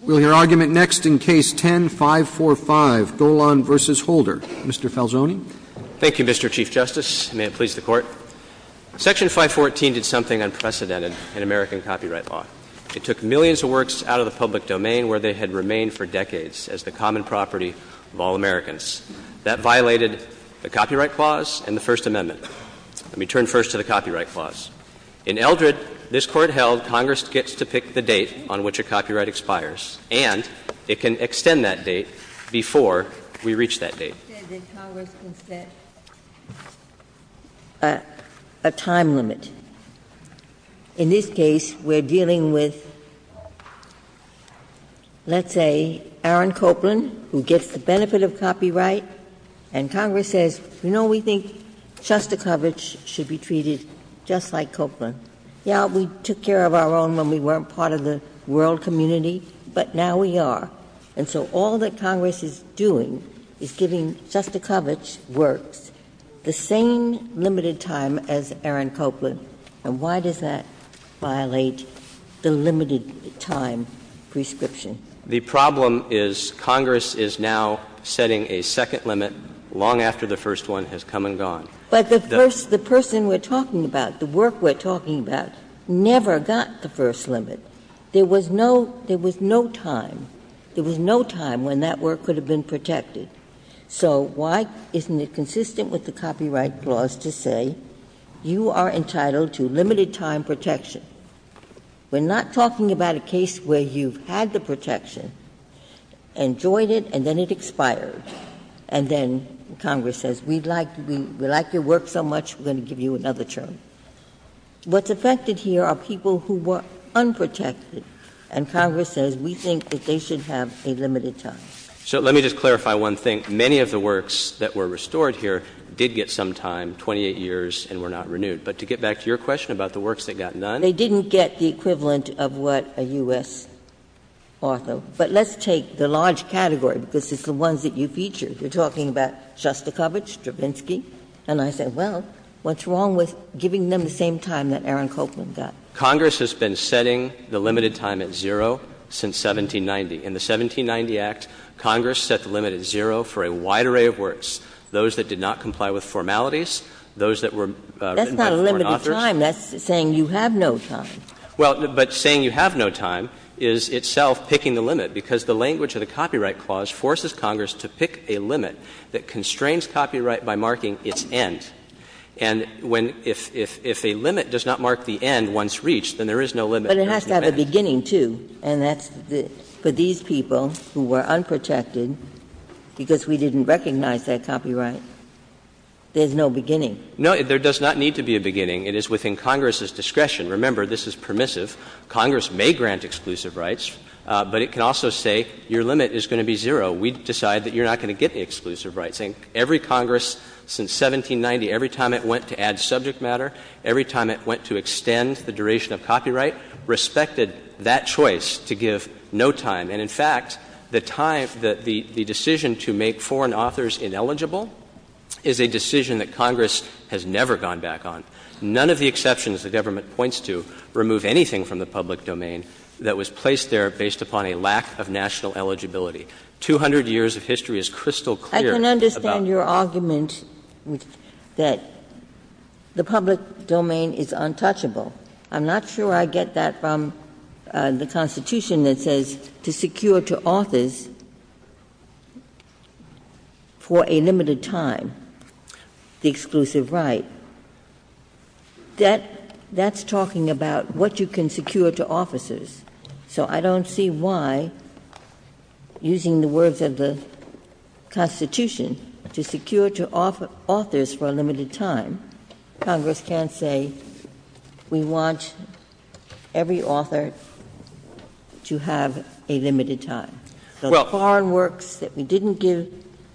We'll hear argument next in Case No. 10-545, Golan v. Holder. Mr. Falzoni. Thank you, Mr. Chief Justice. May it please the Court. Section 514 did something unprecedented in American copyright law. It took millions of works out of the public domain where they had remained for decades as the common property of all Americans. That violated the Copyright Clause and the First Amendment. Let me turn first to the Copyright Clause. In Eldred, this Court held Congress gets to pick the date on which a copyright expires, and it can extend that date before we reach that date. Congress can set a time limit. In this case, we're dealing with, let's say, Aaron Copland, who gets the benefit of copyright, and Congress says, You know, we think Shostakovich should be treated just like Copland. Yeah, we took care of our own when we weren't part of the world community, but now we are. And so all that Congress is doing is giving Shostakovich works the same limited time as Aaron Copland. And why does that violate the limited time prescription? The problem is Congress is now setting a second limit long after the first one has come and gone. But the first the person we're talking about, the work we're talking about, never got the first limit. There was no, there was no time. There was no time when that work could have been protected. So why isn't it consistent with the Copyright Clause to say you are entitled to limited time protection? We're not talking about a case where you've had the protection, enjoyed it, and then it expired, and then Congress says, we like your work so much, we're going to give you another term. What's affected here are people who were unprotected, and Congress says we think that they should have a limited time. So let me just clarify one thing. Many of the works that were restored here did get some time, 28 years, and were not renewed. But to get back to your question about the works that got none? They didn't get the equivalent of what a U.S. author. But let's take the large category, because it's the ones that you featured. You're talking about Shostakovich, Stravinsky. And I say, well, what's wrong with giving them the same time that Aaron Copland got? Congress has been setting the limited time at zero since 1790. In the 1790 Act, Congress set the limit at zero for a wide array of works. Those that did not comply with formalities, those that were written by foreign authors. But that's not a time. That's saying you have no time. Well, but saying you have no time is itself picking the limit, because the language of the Copyright Clause forces Congress to pick a limit that constrains copyright by marking its end. And when — if a limit does not mark the end once reached, then there is no limit. But it has to have a beginning, too. And that's — for these people who were unprotected because we didn't recognize that copyright, there's no beginning. No, there does not need to be a beginning. It is within Congress's discretion. Remember, this is permissive. Congress may grant exclusive rights, but it can also say your limit is going to be zero. We decide that you're not going to get the exclusive rights. And every Congress since 1790, every time it went to add subject matter, every time it went to extend the duration of copyright, respected that choice to give no time. And, in fact, the time — the decision to make foreign authors ineligible is a decision that Congress has never gone back on. None of the exceptions the government points to remove anything from the public domain that was placed there based upon a lack of national eligibility. Two hundred years of history is crystal clear about — Ginsburg. I can understand your argument that the public domain is untouchable. I'm not sure I get that from the Constitution that says to secure to authors for a limited time. The exclusive right. That — that's talking about what you can secure to officers. So I don't see why, using the words of the Constitution, to secure to authors for a limited time, Congress can't say we want every author to have a limited time. The foreign works that we didn't give,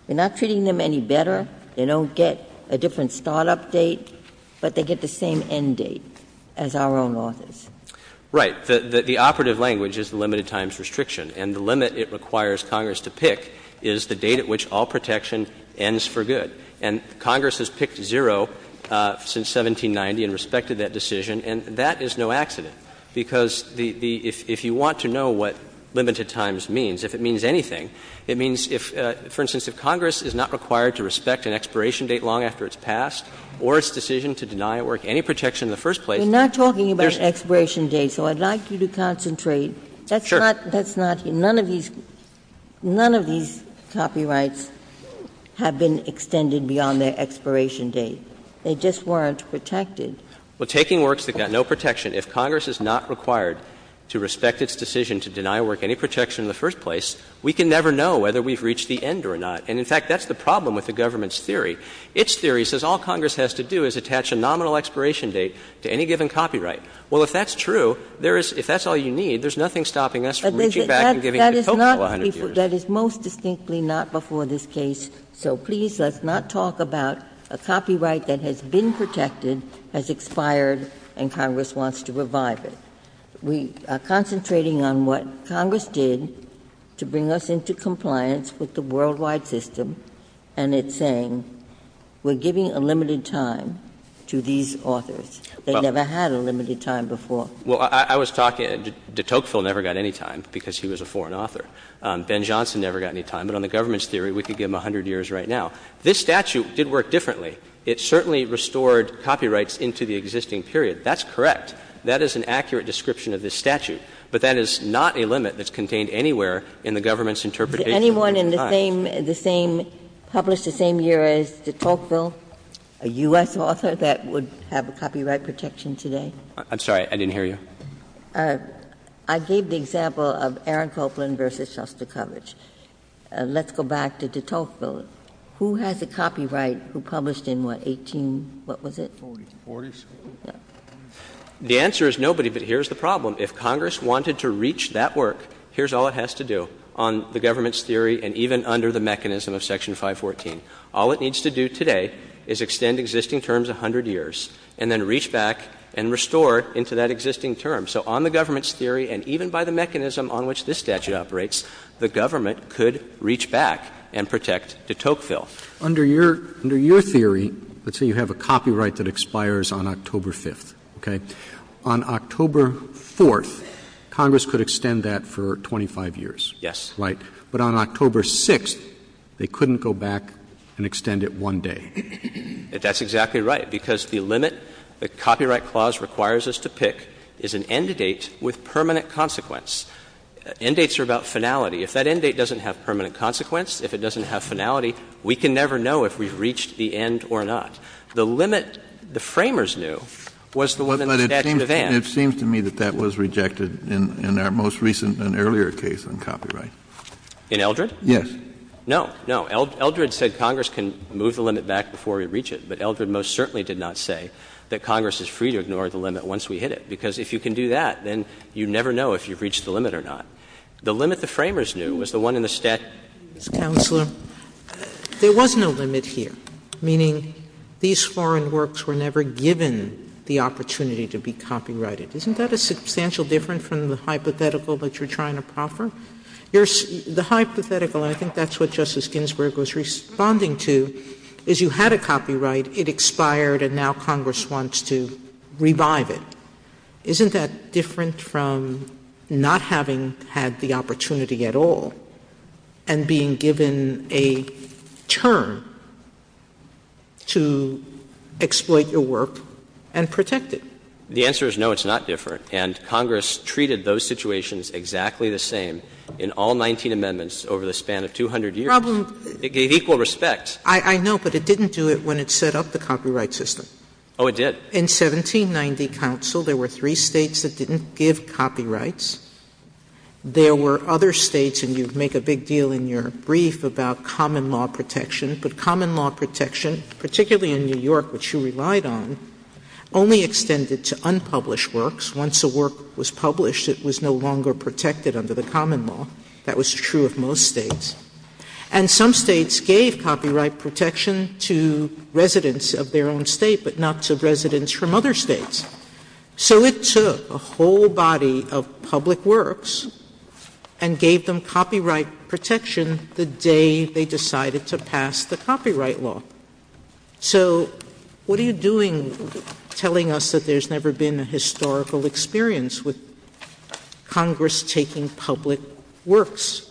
we're not treating them any better. They don't get a different start-up date, but they get the same end date as our own authors. Right. The — the operative language is the limited times restriction. And the limit it requires Congress to pick is the date at which all protection ends for good. And Congress has picked zero since 1790 and respected that decision, and that is no accident. Because the — if you want to know what limited times means, if it means anything, it means if, for instance, if Congress is not required to respect an expiration date long after it's passed or its decision to deny a work any protection in the first place, there's— Ginsburg. We're not talking about expiration dates, so I'd like you to concentrate. That's not — that's not — none of these — none of these copyrights have been extended beyond their expiration date. They just weren't protected. Well, taking works that got no protection, if Congress is not required to respect its decision to deny a work any protection in the first place, we can never know whether we've reached the end or not. And, in fact, that's the problem with the government's theory. Its theory says all Congress has to do is attach a nominal expiration date to any given copyright. Well, if that's true, there is — if that's all you need, there's nothing stopping us from reaching back and giving it a total of 100 years. That is most distinctly not before this case. So please, let's not talk about a copyright that has been protected, has expired, and Congress wants to revive it. We are concentrating on what Congress did to bring us into compliance with the worldwide system, and it's saying we're giving a limited time to these authors. They never had a limited time before. Well, I was talking — de Tocqueville never got any time because he was a foreign author. Ben Johnson never got any time. But on the government's theory, we could give him 100 years right now. This statute did work differently. It certainly restored copyrights into the existing period. That's correct. That is an accurate description of this statute. But that is not a limit that's contained anywhere in the government's interpretation of limited time. Ginsburg. Is there anyone in the same — published the same year as de Tocqueville, a U.S. author that would have a copyright protection today? I'm sorry. I didn't hear you. I gave the example of Aaron Copeland v. Shostakovich. Let's go back to de Tocqueville. Who has the copyright? Who published in what, 18 — what was it? Forties. The answer is nobody, but here's the problem. If Congress wanted to reach that work, here's all it has to do on the government's theory and even under the mechanism of Section 514. All it needs to do today is extend existing terms 100 years and then reach back and restore into that existing term. So on the government's theory and even by the mechanism on which this statute operates, the government could reach back and protect de Tocqueville. Under your — under your theory, let's say you have a copyright that expires on October 5th, okay? On October 4th, Congress could extend that for 25 years. Yes. Right? But on October 6th, they couldn't go back and extend it one day. That's exactly right, because the limit the Copyright Clause requires us to pick is an end date with permanent consequence. End dates are about finality. If that end date doesn't have permanent consequence, if it doesn't have finality, we can never know if we've reached the end or not. The limit the Framers knew was the one in the Statute of Ends. It seems to me that that was rejected in our most recent and earlier case on copyright. In Eldred? Yes. No, no. Eldred said Congress can move the limit back before we reach it, but Eldred most certainly did not say that Congress is free to ignore the limit once we hit it, because if you can do that, then you never know if you've reached the limit or not. The limit the Framers knew was the one in the Statute of Ends. Counselor, there was no limit here, meaning these foreign works were never given the opportunity to be copyrighted. Isn't that a substantial difference from the hypothetical that you're trying to proffer? The hypothetical, and I think that's what Justice Ginsburg was responding to, is you had a copyright, it expired, and now Congress wants to revive it. Isn't that different from not having had the opportunity at all and being given a term to exploit your work and protect it? The answer is no, it's not different. And Congress treated those situations exactly the same in all 19 amendments over the span of 200 years. It gave equal respect. I know, but it didn't do it when it set up the copyright system. Oh, it did. In 1790, Counsel, there were three states that didn't give copyrights. There were other states, and you make a big deal in your brief about common law protection, but common law protection, particularly in New York, which you relied on, only extended to unpublished works. Once a work was published, it was no longer protected under the common law. That was true of most states. And some states gave copyright protection to residents of their own state, but not the rights of residents from other states. So it took a whole body of public works and gave them copyright protection the day they decided to pass the copyright law. So what are you doing telling us that there's never been a historical experience with Congress taking public works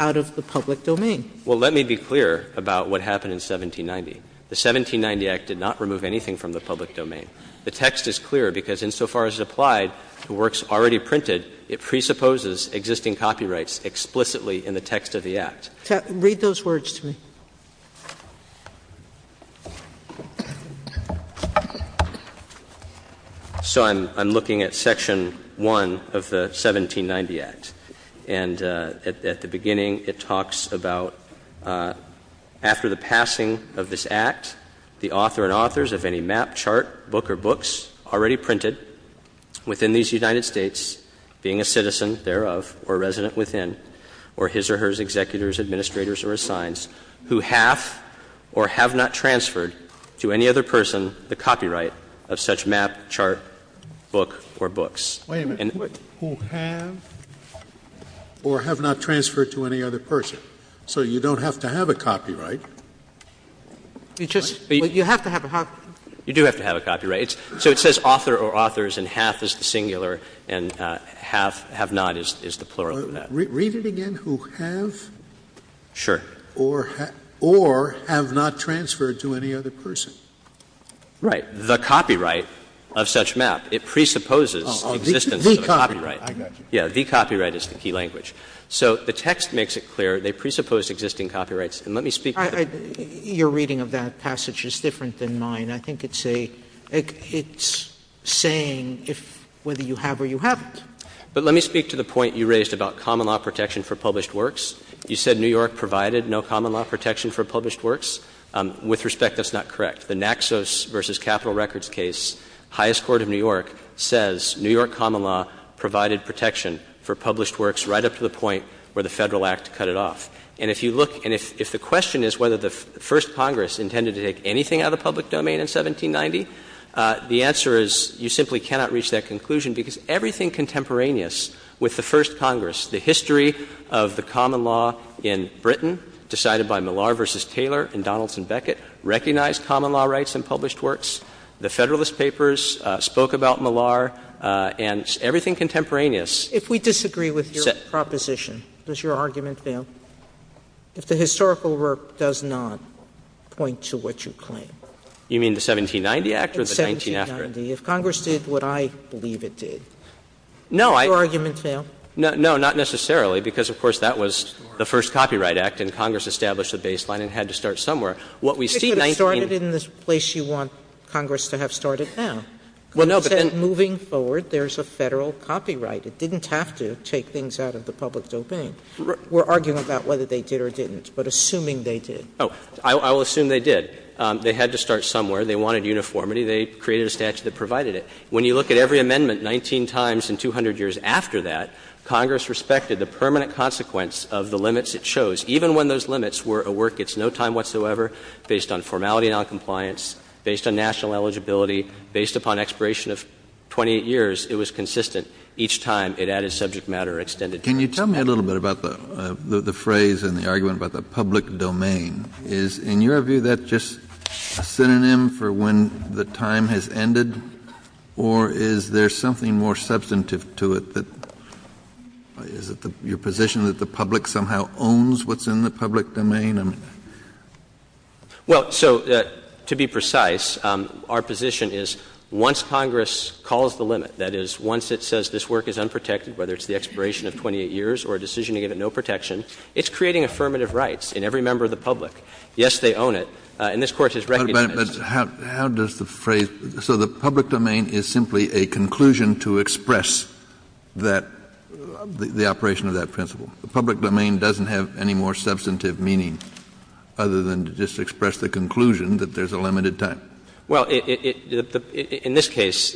out of the public domain? Well, let me be clear about what happened in 1790. The 1790 Act did not remove anything from the public domain. The text is clear because insofar as it applied to works already printed, it presupposes existing copyrights explicitly in the text of the Act. Read those words to me. So I'm looking at section 1 of the 1790 Act. And at the beginning, it talks about after the passing of this Act, the author and authors of any map, chart, book, or books already printed within these United States, being a citizen thereof or resident within, or his or hers executors, administrators, or assigns, who have or have not transferred to any other person the copyright of such map, chart, book, or books. Wait a minute. Who have or have not transferred to any other person. So you don't have to have a copyright. You just you have to have a copyright. You do have to have a copyright. So it says author or authors and half is the singular and half have not is the plural of that. Read it again. Who have. Sure. Or have not transferred to any other person. Right. And the copyright of such map, it presupposes existence of a copyright. Oh, the copyright. I got you. Yes. The copyright is the key language. So the text makes it clear they presuppose existing copyrights. And let me speak to that. Your reading of that passage is different than mine. I think it's a — it's saying whether you have or you haven't. But let me speak to the point you raised about common law protection for published works. You said New York provided no common law protection for published works. With respect, that's not correct. The Naxos v. Capitol Records case, highest court of New York says New York common law provided protection for published works right up to the point where the Federal Act cut it off. And if you look — and if the question is whether the First Congress intended to take anything out of the public domain in 1790, the answer is you simply cannot reach that conclusion because everything contemporaneous with the First Congress, the history of the common law in Britain decided by Millar v. Taylor and Donaldson that the Federalist Papers spoke about common law rights in published works. The Federalist Papers spoke about Millar, and everything contemporaneous said — Sotomayor, if we disagree with your proposition, does your argument fail, if the historical work does not point to what you claim? You mean the 1790 Act or the 19 after it? 1790. If Congress did what I believe it did, does your argument fail? No, I — no, not necessarily, because, of course, that was the first Copyright Act, and Congress established the baseline and had to start somewhere. What we see, 19— You could have started in the place you want Congress to have started now. Well, no, but then— Congress said moving forward, there's a Federal copyright. It didn't have to take things out of the public domain. We're arguing about whether they did or didn't, but assuming they did. Oh, I will assume they did. They had to start somewhere. They wanted uniformity. They created a statute that provided it. When you look at every amendment 19 times in 200 years after that, Congress respected the permanent consequence of the limits it chose. Even when those limits were a work that's no time whatsoever, based on formality and noncompliance, based on national eligibility, based upon expiration of 28 years, it was consistent each time it added subject matter or extended time. Kennedy. Kennedy. Can you tell me a little bit about the phrase and the argument about the public domain? Is, in your view, that just synonym for when the time has ended, or is there something more substantive to it? Is it your position that the public somehow owns what's in the public domain? Well, so, to be precise, our position is once Congress calls the limit, that is, once it says this work is unprotected, whether it's the expiration of 28 years or a decision to give it no protection, it's creating affirmative rights in every member of the public. Yes, they own it. And this Court has recognized that. But how does the phrase – so the public domain is simply a conclusion to express that, the operation of that principle. The public domain doesn't have any more substantive meaning other than to just express the conclusion that there's a limited time. Well, in this case,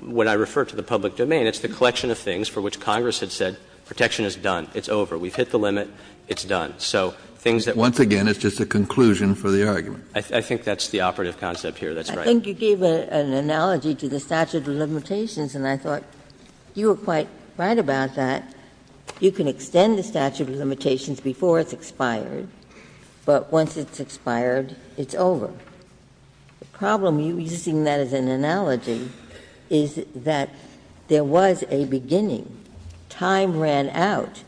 when I refer to the public domain, it's the collection of things for which Congress had said protection is done, it's over, we've hit the limit, it's done. So things that we've done. Once again, it's just a conclusion for the argument. I think that's the operative concept here. That's right. I think you gave an analogy to the statute of limitations, and I thought you were quite right about that. You can extend the statute of limitations before it's expired, but once it's expired, it's over. The problem, you're using that as an analogy, is that there was a beginning. Time ran out,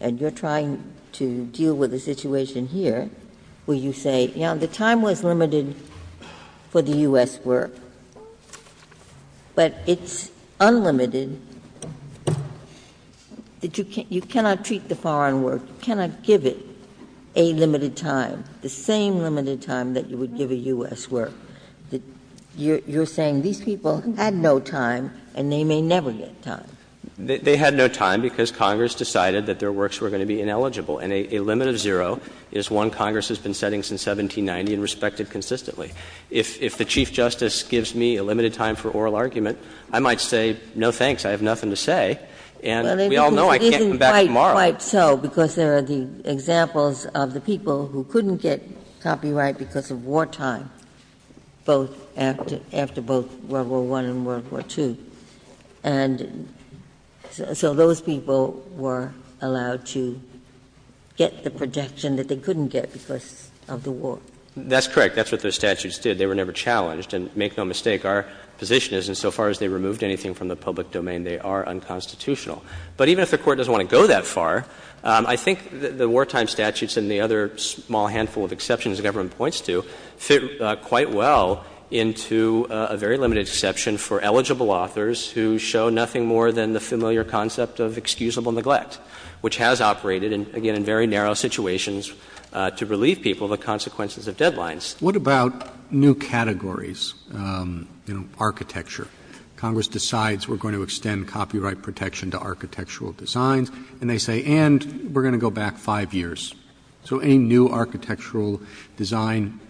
and you're trying to deal with a situation here where you say, you know, the time was limited for the U.S. work, but it's unlimited, that you cannot treat the foreign work, you cannot give it a limited time, the same limited time that you would give a U.S. work. You're saying these people had no time, and they may never get time. They had no time because Congress decided that their works were going to be ineligible. And a limit of zero is one Congress has been setting since 1790 and respected consistently. If the Chief Justice gives me a limited time for oral argument, I might say, no, thanks. I have nothing to say. And we all know I can't come back tomorrow. But it isn't quite so, because there are the examples of the people who couldn't get copyright because of wartime, both after World War I and World War II. And so those people were allowed to get the protection that they couldn't get because of the war. That's correct. That's what those statutes did. They were never challenged. And make no mistake, our position is insofar as they removed anything from the public domain, they are unconstitutional. But even if the Court doesn't want to go that far, I think the wartime statutes and the other small handful of exceptions the government points to fit quite well into a very limited exception for eligible authors who show nothing more than the familiar concept of excusable neglect, which has operated, again, in very narrow situations to relieve people of the consequences of deadlines. What about new categories, you know, architecture? Congress decides we're going to extend copyright protection to architectural designs, and they say, and we're going to go back five years. So any new architectural design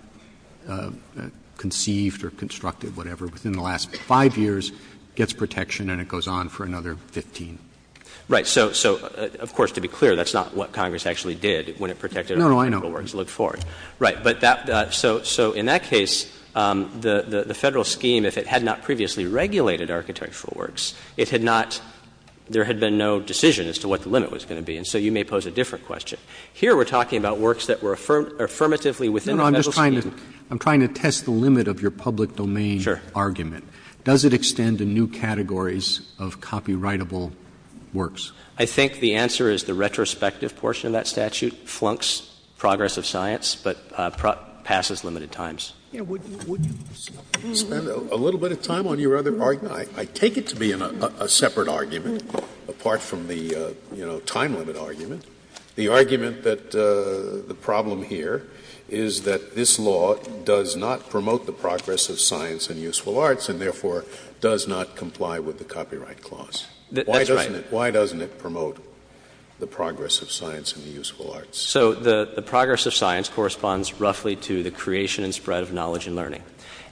conceived or constructed, whatever, within the last five years gets protection, and it goes on for another 15. Right. So, of course, to be clear, that's not what Congress actually did when it protected architectural works. Look forward. Right. So in that case, the Federal scheme, if it had not previously regulated architectural works, it had not, there had been no decision as to what the limit was going to be. And so you may pose a different question. Here we're talking about works that were affirmatively within the Federal scheme. No, no. I'm just trying to test the limit of your public domain argument. Sure. Does it extend to new categories of copyrightable works? I think the answer is the retrospective portion of that statute flunks progress of science, but passes limited times. Would you spend a little bit of time on your other argument? I take it to be a separate argument, apart from the, you know, time limit argument. The argument that the problem here is that this law does not promote the progress of science and useful arts, and therefore does not comply with the Copyright Clause. That's right. Why doesn't it promote the progress of science and the useful arts? So the progress of science corresponds roughly to the creation and spread of knowledge and learning.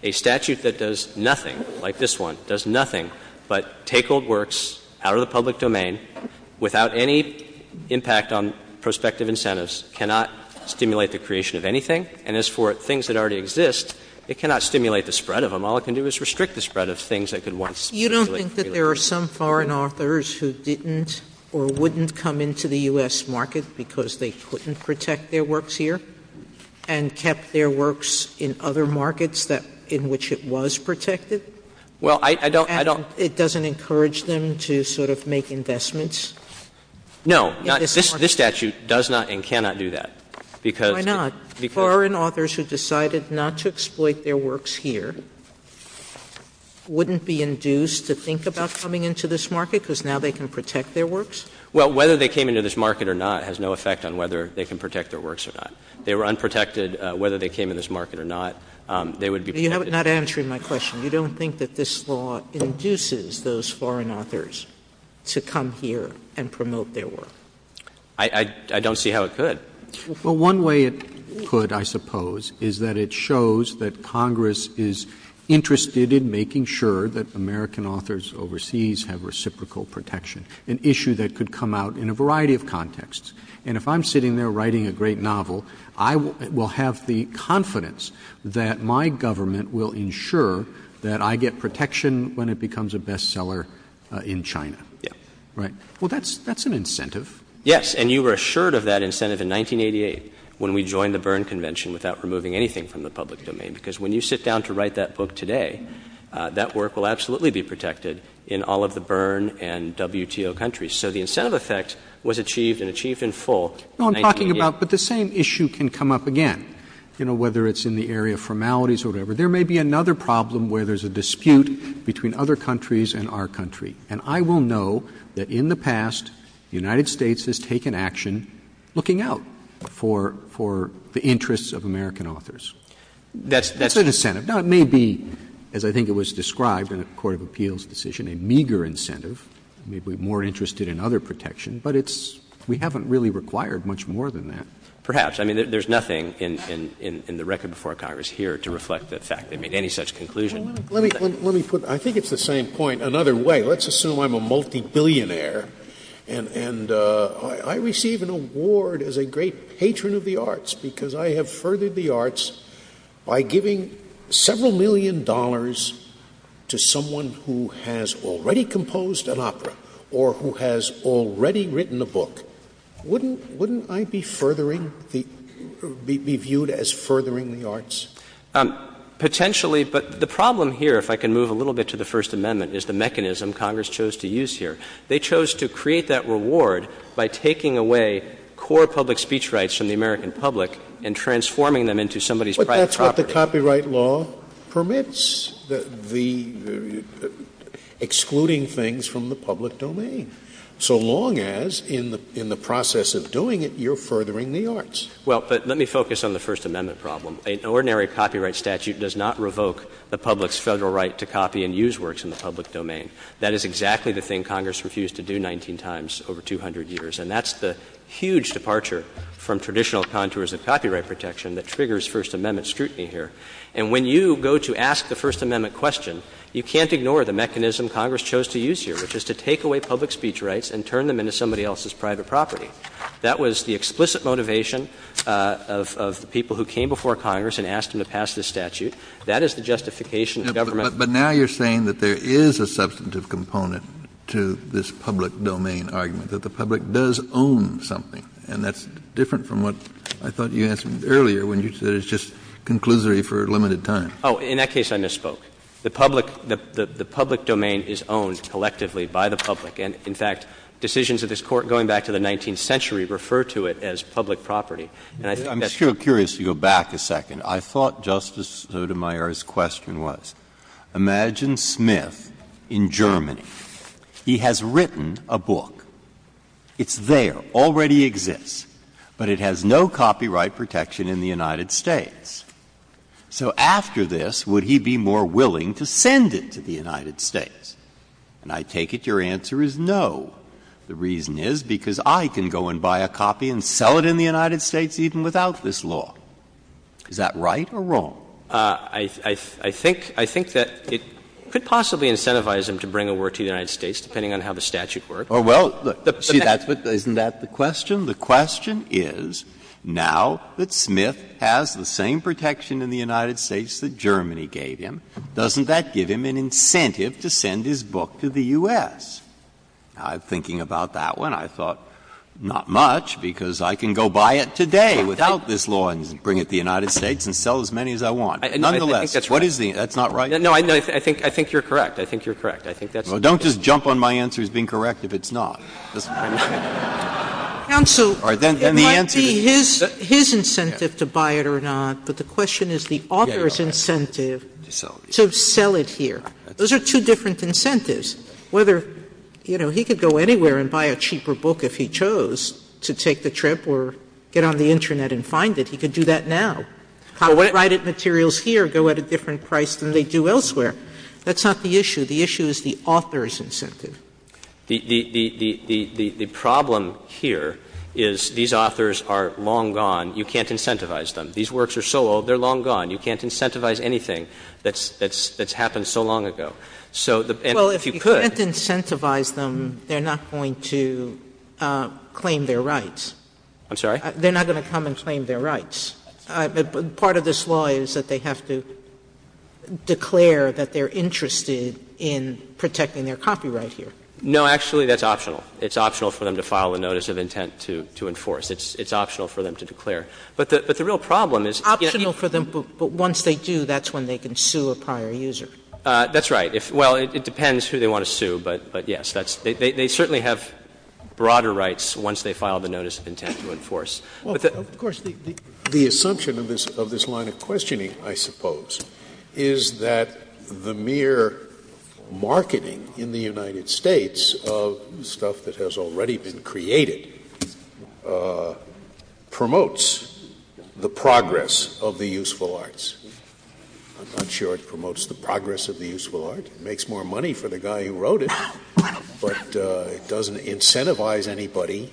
A statute that does nothing, like this one, does nothing but take old works out of the world. It does not stimulate the creation of anything. And as for things that already exist, it cannot stimulate the spread of them. All it can do is restrict the spread of things that could once stimulate the creation of them. You don't think that there are some foreign authors who didn't or wouldn't come into the U.S. market because they couldn't protect their works here and kept their works in other markets in which it was protected? Well, I don't, I don't. And it doesn't encourage them to sort of make investments? No. This statute does not and cannot do that because Why not? Foreign authors who decided not to exploit their works here wouldn't be induced to think about coming into this market because now they can protect their works? Well, whether they came into this market or not has no effect on whether they can protect their works or not. They were unprotected. Whether they came into this market or not, they would be protected. You're not answering my question. You don't think that this law induces those foreign authors to come here and promote their work? I don't see how it could. Well, one way it could, I suppose, is that it shows that Congress is interested in making sure that American authors overseas have reciprocal protection, an issue that could come out in a variety of contexts. And if I'm sitting there writing a great novel, I will have the confidence that my government will ensure that I get protection when it becomes a bestseller in China. Yeah. Right? Well, that's an incentive. Yes. And you were assured of that incentive in 1988 when we joined the Berne Convention without removing anything from the public domain. Because when you sit down to write that book today, that work will absolutely be protected in all of the Berne and WTO countries. So the incentive effect was achieved and achieved in full in 1988. No, I'm talking about, but the same issue can come up again, you know, whether it's in the area of formalities or whatever. There may be another problem where there's a dispute between other countries and our country. And I will know that in the past, the United States has taken action looking out for the interests of American authors. That's an incentive. Now, it may be, as I think it was described in a court of appeals decision, a meager incentive. We'd be more interested in other protection. But it's we haven't really required much more than that. Perhaps. I mean, there's nothing in the record before Congress here to reflect the fact they made any such conclusion. Let me put it. I think it's the same point another way. Let's assume I'm a multi-billionaire and I receive an award as a great patron of the arts because I have furthered the arts by giving several million dollars to someone who has already composed an opera or who has already written a book. Wouldn't I be furthering the — be viewed as furthering the arts? Potentially, but the problem here, if I can move a little bit to the First Amendment, is the mechanism Congress chose to use here. They chose to create that reward by taking away core public speech rights from the American public and transforming them into somebody's private property. But that's what the copyright law permits, the — excluding things from the public domain. So long as in the process of doing it, you're furthering the arts. Well, but let me focus on the First Amendment problem. An ordinary copyright statute does not revoke the public's Federal right to copy and print in the public domain. That is exactly the thing Congress refused to do 19 times over 200 years. And that's the huge departure from traditional contours of copyright protection that triggers First Amendment scrutiny here. And when you go to ask the First Amendment question, you can't ignore the mechanism Congress chose to use here, which is to take away public speech rights and turn them into somebody else's private property. That was the explicit motivation of the people who came before Congress and asked them to pass this statute. That is the justification of government. But now you're saying that there is a substantive component to this public domain argument, that the public does own something. And that's different from what I thought you answered earlier when you said it's just conclusory for a limited time. Oh, in that case, I misspoke. The public — the public domain is owned collectively by the public. And, in fact, decisions of this Court going back to the 19th century refer to it as public property. And I think that's true. I'm still curious to go back a second. I thought Justice Sotomayor's question was, imagine Smith in Germany. He has written a book. It's there, already exists. But it has no copyright protection in the United States. So after this, would he be more willing to send it to the United States? And I take it your answer is no. The reason is because I can go and buy a copy and sell it in the United States even without this law. Is that right or wrong? I think — I think that it could possibly incentivize him to bring a work to the United States, depending on how the statute works. Oh, well, see, that's what — isn't that the question? The question is, now that Smith has the same protection in the United States that Germany gave him, doesn't that give him an incentive to send his book to the U.S.? Now, thinking about that one, I thought, not much, because I can go buy it today without this law and bring it to the United States and sell as many as I want. Nonetheless, what is the — that's not right? No, I think you're correct. I think you're correct. I think that's the case. Well, don't just jump on my answer as being correct if it's not. That's what I'm saying. Counsel, it might be his incentive to buy it or not, but the question is the author's incentive to sell it here. Those are two different incentives. Whether, you know, he could go anywhere and buy a cheaper book if he chose to take a trip or get on the Internet and find it, he could do that now. Hot-rated materials here go at a different price than they do elsewhere. That's not the issue. The issue is the author's incentive. The problem here is these authors are long gone. You can't incentivize them. These works are so old, they're long gone. You can't incentivize anything that's happened so long ago. So if you could— Well, if you can't incentivize them, they're not going to claim their rights. I'm sorry? They're not going to come and claim their rights. Part of this law is that they have to declare that they're interested in protecting their copyright here. No, actually, that's optional. It's optional for them to file a notice of intent to enforce. It's optional for them to declare. But the real problem is— Optional for them, but once they do, that's when they can sue a prior user. That's right. Well, it depends who they want to sue, but yes. They certainly have broader rights once they file the notice of intent to enforce. Of course, the assumption of this line of questioning, I suppose, is that the mere marketing in the United States of stuff that has already been created promotes the progress of the useful arts. I'm not sure it promotes the progress of the useful art. It makes more money for the guy who wrote it. But it doesn't incentivize anybody—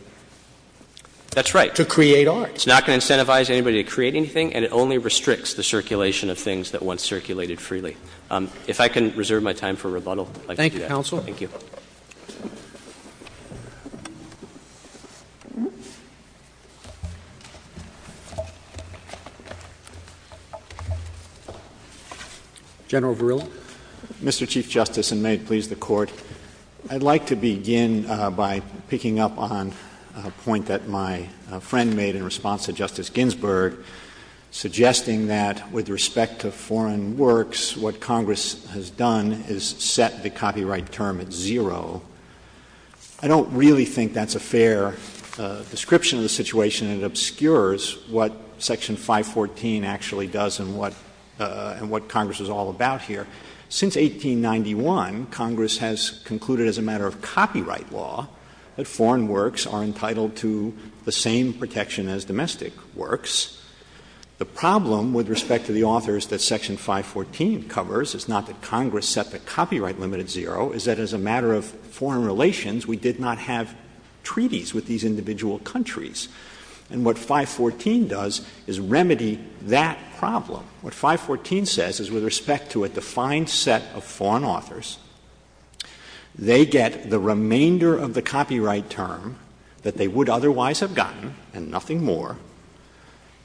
That's right. —to create art. It's not going to incentivize anybody to create anything, and it only restricts the circulation of things that once circulated freely. If I can reserve my time for rebuttal, I'd like to do that. Thank you, counsel. Thank you. General Verrilli. Mr. Chief Justice, and may it please the Court, I'd like to begin by picking up on a point that my friend made in response to Justice Ginsburg, suggesting that with respect to foreign works, what Congress has done is set the copyright term at zero. I don't really think that's a fair description of the situation. It obscures what Section 514 actually does and what Congress is all about here. Since 1891, Congress has concluded as a matter of copyright law that foreign works are entitled to the same protection as domestic works. The problem with respect to the authors that Section 514 covers is not that Congress set the copyright limit at zero, it's that as a matter of foreign relations, we did not have treaties with these individual countries. And what 514 does is remedy that problem. What 514 says is with respect to a defined set of foreign authors, they get the remainder of the copyright term that they would otherwise have gotten, and nothing more,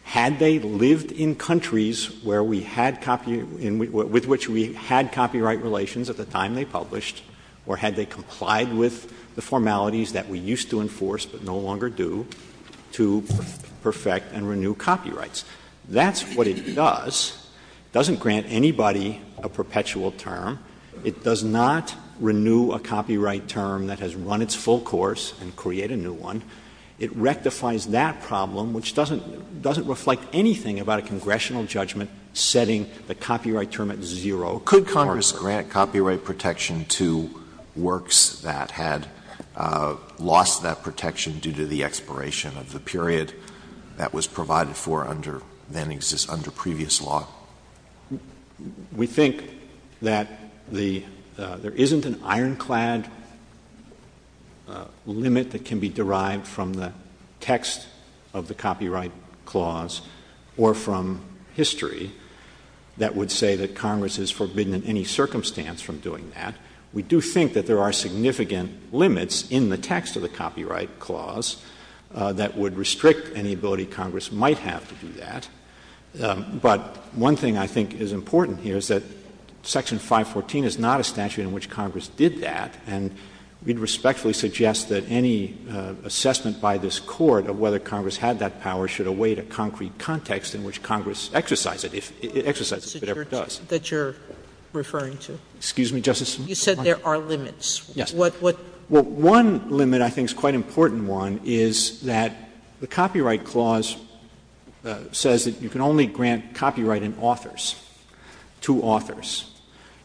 had they lived in countries where we had copyright — with which we had copyright relations at the time they published, or had they complied with the formalities that we used to enforce, but no longer do, to perfect and renew copyrights. That's what it does. It doesn't grant anybody a perpetual term. It does not renew a copyright term that has run its full course and create a new one. It rectifies that problem, which doesn't — doesn't reflect anything about a congressional judgment setting the copyright term at zero. Could Congress grant copyright protection to works that had lost that protection due to the expiration of the period that was provided for under — then exists under previous law? We think that the — there isn't an ironclad limit that can be derived from the text of the copyright clause or from history that would say that Congress is forbidden in any circumstance from doing that. We do think that there are significant limits in the text of the copyright clause that would restrict any ability Congress might have to do that. But one thing I think is important here is that Section 514 is not a statute in which Congress did that, and we'd respectfully suggest that any assessment by this Court of whether Congress had that power should await a concrete context in which Congress exercised it, if it ever does. That you're referring to? Excuse me, Justice Sotomayor? You said there are limits. Yes. What — what — Well, one limit I think is quite an important one is that the copyright clause says that you can only grant copyright in authors, to authors.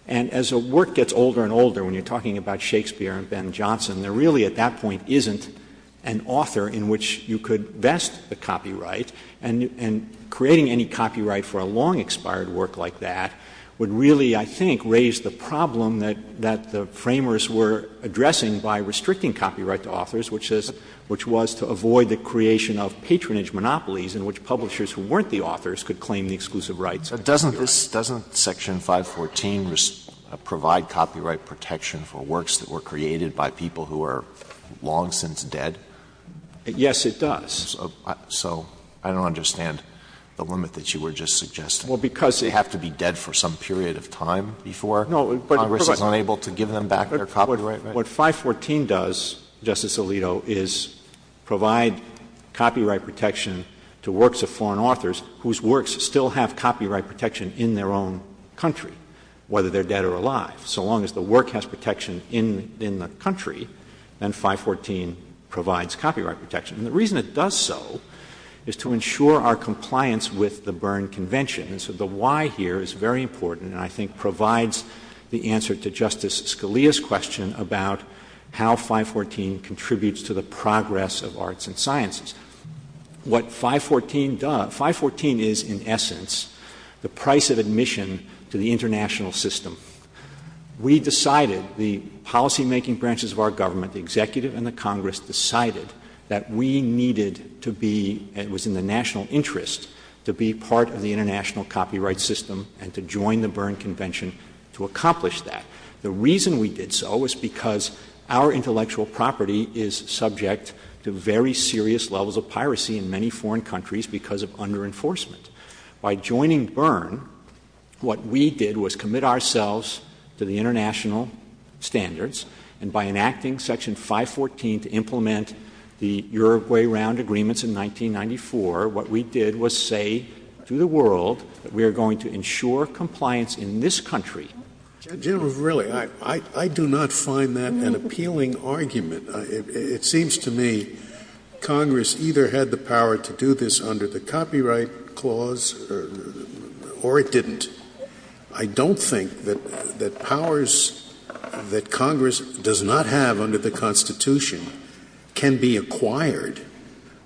And as a work gets older and older, when you're talking about Shakespeare and Ben Johnson, there really at that point isn't an author in which you could vest the copyright. And creating any copyright for a long-expired work like that would really, I think, raise the problem that — that the Framers were addressing by restricting copyright to authors, which is — which was to avoid the creation of patronage monopolies in which publishers who weren't the authors could claim the exclusive rights. Doesn't this — doesn't Section 514 provide copyright protection for works that were created by people who are long since dead? Yes, it does. So I don't understand the limit that you were just suggesting. Well, because — They have to be dead for some period of time before Congress is unable to give them back their copyright, right? What 514 does, Justice Alito, is provide copyright protection to works of foreign authors whose works still have copyright protection in their own country, whether they're dead or alive. So long as the work has protection in — in the country, then 514 provides copyright protection. And the reason it does so is to ensure our compliance with the Berne Convention. And so the why here is very important and I think provides the answer to Justice Scalia's question about how 514 contributes to the progress of arts and sciences. What 514 does — 514 is, in essence, the price of admission to the international system. We decided, the policymaking branches of our government, the Executive and the Congress decided that we needed to be — it was in the national interest to be part of the international copyright system and to join the Berne Convention to accomplish that. The reason we did so was because our intellectual property is subject to very serious levels of piracy in many foreign countries because of under enforcement. By joining Berne, what we did was commit ourselves to the international standards, and by enacting Section 514 to implement the Uruguay Round Agreements in 1994, what we did was say to the world that we are going to ensure compliance in this country. General, really, I — I do not find that an appealing argument. It seems to me Congress either had the power to do this under the Copyright Clause or it didn't. I don't think that — that powers that Congress does not have under the Constitution can be acquired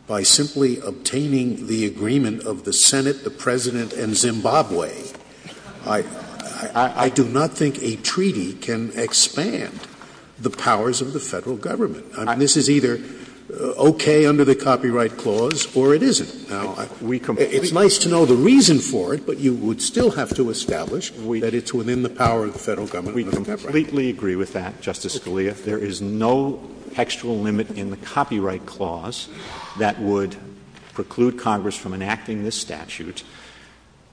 by simply obtaining the agreement of the Senate, the President, and Zimbabwe. I — I do not think a treaty can expand the powers of the Federal Government. I mean, this is either okay under the Copyright Clause or it isn't. It's nice to know the reason for it, but you would still have to establish that it's within the power of the Federal Government. We completely agree with that, Justice Scalia. There is no textual limit in the Copyright Clause that would preclude Congress from enacting this statute.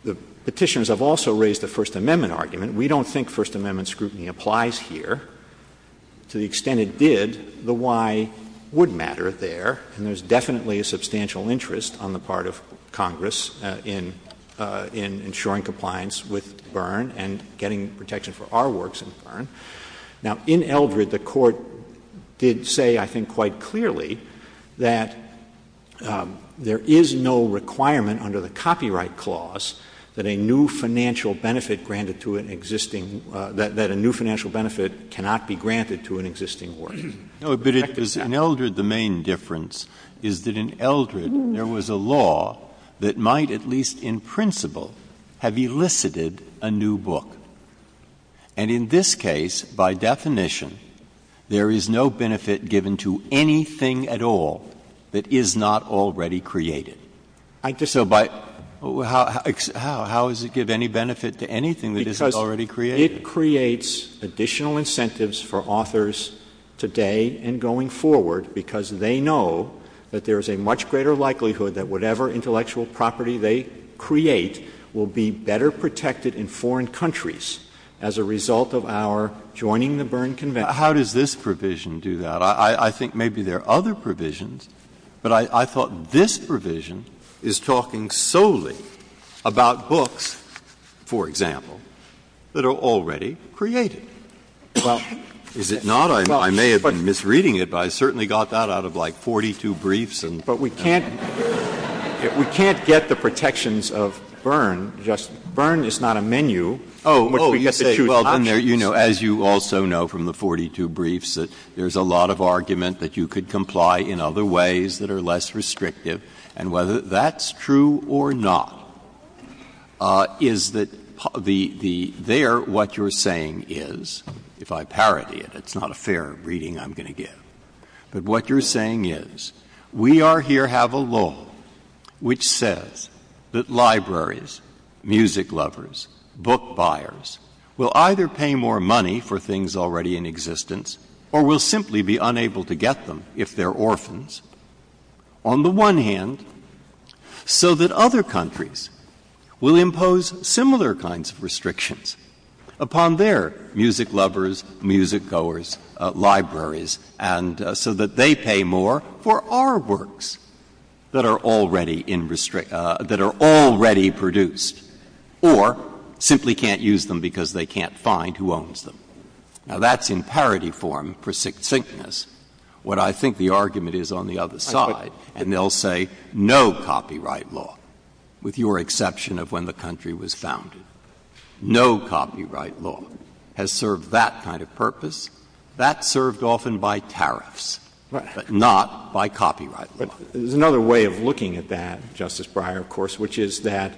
The Petitioners have also raised the First Amendment argument. We don't think First Amendment scrutiny applies here. To the extent it did, the why would matter there, and there's definitely a substantial interest on the part of Congress in — in ensuring compliance with Berne and getting protection for our works in Berne. Now, in Eldred, the Court did say, I think quite clearly, that there is no requirement under the Copyright Clause that a new financial benefit granted to an existing — that a new financial benefit cannot be granted to an existing work. No, but in Eldred, the main difference is that in Eldred, there was a law that might at least in principle have elicited a new book. And in this case, by definition, there is no benefit given to anything at all that is not already created. So by — how does it give any benefit to anything that isn't already created? It creates additional incentives for authors today and going forward because they know that there is a much greater likelihood that whatever intellectual property they create will be better protected in foreign countries as a result of our joining the Berne Convention. How does this provision do that? I think maybe there are other provisions, but I thought this provision is talking solely about books, for example, that are already created. Is it not? I may have been misreading it, but I certainly got that out of like 42 briefs. But we can't get the protections of Berne. Berne is not a menu in which we get to choose options. Oh, you say. Well, as you also know from the 42 briefs, there is a lot of argument that you could or not is that the — there, what you're saying is — if I parody it, it's not a fair reading I'm going to give. But what you're saying is we are here have a law which says that libraries, music lovers, book buyers will either pay more money for things already in existence or will simply be unable to get them if they're orphans. On the one hand, so that other countries will impose similar kinds of restrictions upon their music lovers, music goers, libraries, and so that they pay more for our works that are already in — that are already produced or simply can't use them because they can't find who owns them. Now, that's in parody form for succinctness. What I think the argument is on the other side, and they'll say no copyright law, with your exception of when the country was founded. No copyright law has served that kind of purpose. That's served often by tariffs, but not by copyright law. But there's another way of looking at that, Justice Breyer, of course, which is that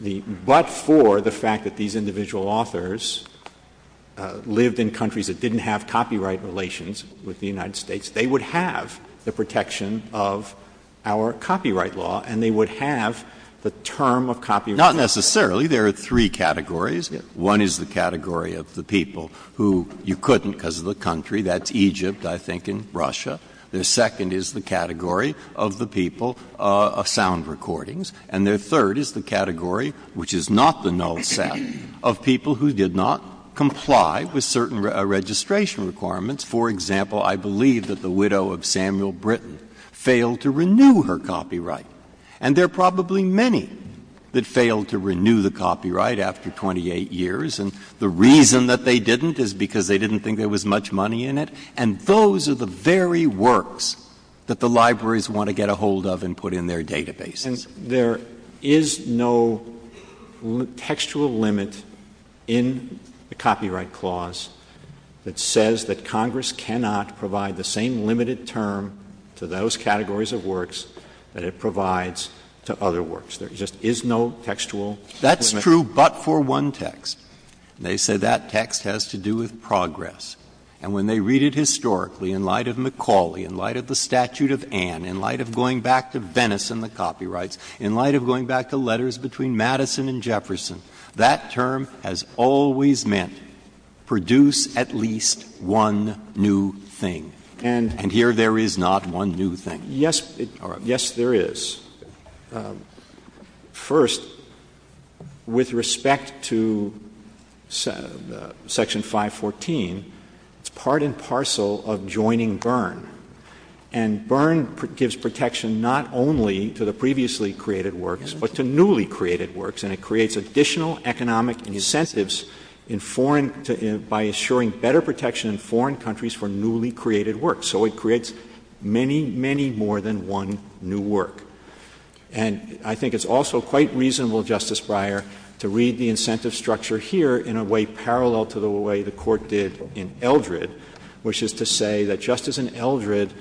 the — but for the fact that these individual authors lived in countries that didn't have copyright relations with the United States, they would have the protection of our copyright law, and they would have the term of copyright law. Not necessarily. There are three categories. One is the category of the people who you couldn't because of the country. That's Egypt, I think, and Russia. The second is the category of the people of sound recordings. And the third is the category, which is not the null set, of people who did not comply with certain registration requirements. For example, I believe that the widow of Samuel Britton failed to renew her copyright. And there are probably many that failed to renew the copyright after 28 years, and the reason that they didn't is because they didn't think there was much money in it. And those are the very works that the libraries want to get a hold of and put in their databases. And there is no textual limit in the Copyright Clause that says that Congress cannot provide the same limited term to those categories of works that it provides to other works. There just is no textual limit. That's true but for one text. They say that text has to do with progress. And when they read it historically, in light of McCauley, in light of the statute of Ann, in light of going back to Venice and the copyrights, in light of going back to letters between Madison and Jefferson, that term has always meant produce at least one new thing. And here there is not one new thing. Yes, there is. First, with respect to Section 514, it's part and parcel of joining Byrne. And Byrne gives protection not only to the previously created works, but to newly created works. And it creates additional economic incentives in foreign to by assuring better protection in foreign countries for newly created works. So it creates many, many more than one new work. And I think it's also quite reasonable, Justice Breyer, to read the incentive structure here in a way parallel to the way the Court did in Eldred, which is to say that, just as in Eldred,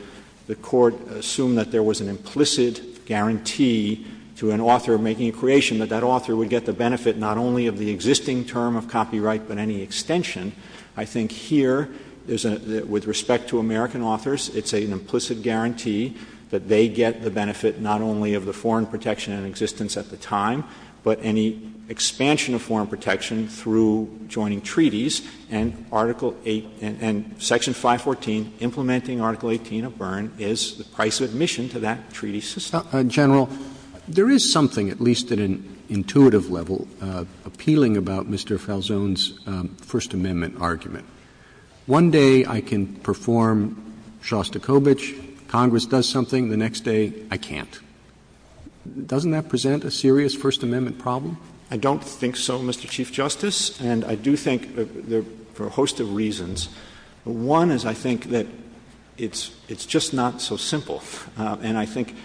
the Court assumed that there was an implicit guarantee to an author of making a creation, that that author would get the benefit not only of the existing term of copyright, but any extension. I think here, with respect to American authors, it's an implicit guarantee that they get the benefit not only of the foreign protection in existence at the time, but any expansion of foreign protection through joining treaties. And Article 8 and Section 514 implementing Article 18 of Byrne is the price of admission to that treaty system. Roberts. General, there is something, at least at an intuitive level, appealing about Mr. Falzon's First Amendment argument. One day I can perform Shostakovich, Congress does something, the next day I can't. Doesn't that present a serious First Amendment problem? I don't think so, Mr. Chief Justice, and I do think for a host of reasons. One is I think that it's just not so simple. And I think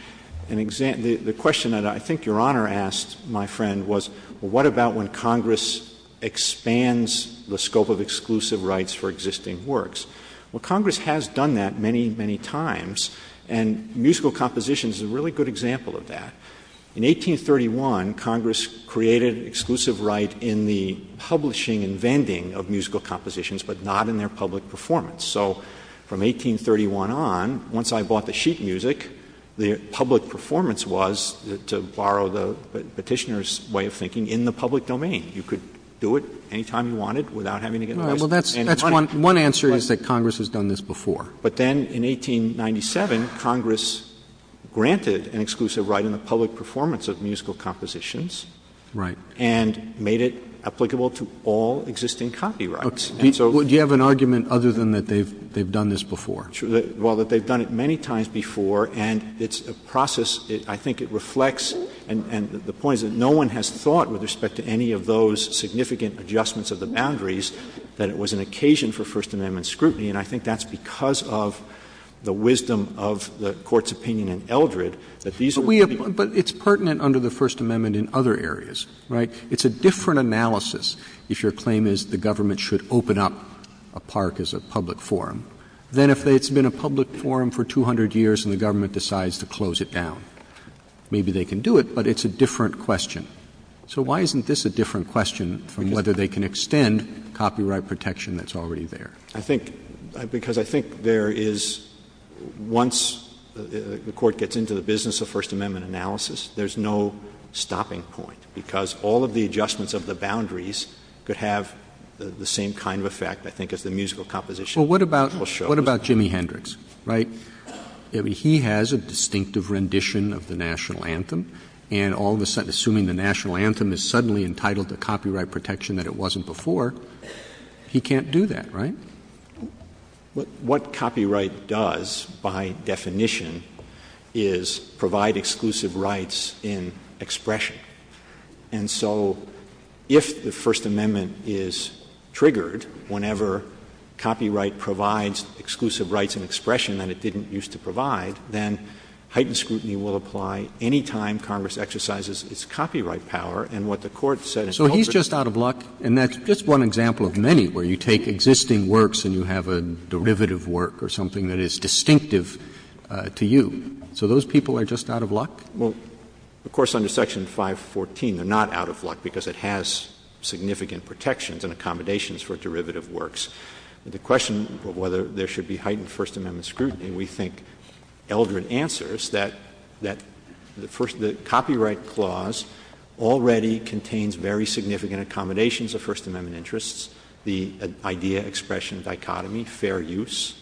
the question that I think Your Honor asked, my friend, was what about when Congress expands the scope of exclusive rights for existing works? Well, Congress has done that many, many times. And musical composition is a really good example of that. In 1831, Congress created exclusive right in the publishing and vending of musical compositions, but not in their public performance. So from 1831 on, once I bought the sheet music, the public performance was, to borrow the Petitioner's way of thinking, in the public domain. You could do it any time you wanted without having to get a license. All right. Well, that's one answer is that Congress has done this before. But then in 1897, Congress granted an exclusive right in the public performance of musical compositions. Right. And made it applicable to all existing copyrights. Do you have an argument other than that they've done this before? Well, that they've done it many times before, and it's a process, I think it reflects, and the point is that no one has thought with respect to any of those significant adjustments of the boundaries that it was an occasion for First Amendment scrutiny. And I think that's because of the wisdom of the Court's opinion in Eldred that these are the people. But it's pertinent under the First Amendment in other areas, right? It's a different analysis if your claim is the government should open up a park as a public forum than if it's been a public forum for 200 years and the government decides to close it down. Maybe they can do it, but it's a different question. So why isn't this a different question from whether they can extend copyright protection that's already there? I think because I think there is once the Court gets into the business of First Amendment analysis, there's no stopping point because all of the adjustments of the boundaries could have the same kind of effect, I think, as the musical composition. Well, what about Jimi Hendrix, right? I mean, he has a distinctive rendition of the National Anthem, and all of a sudden, assuming the National Anthem is suddenly entitled to copyright protection that it wasn't before, he can't do that, right? What copyright does, by definition, is provide exclusive rights in expression. And so if the First Amendment is triggered whenever copyright provides exclusive rights in expression that it didn't used to provide, then heightened scrutiny will apply any time Congress exercises its copyright power. And what the Court said in Colbert's case is that it doesn't apply. But if it works and you have a derivative work or something that is distinctive to you, so those people are just out of luck? Well, of course, under Section 514, they're not out of luck because it has significant protections and accommodations for derivative works. The question of whether there should be heightened First Amendment scrutiny, we think Eldred answers that the copyright clause already contains very significant accommodations of First Amendment interests, the idea-expression dichotomy, fair use,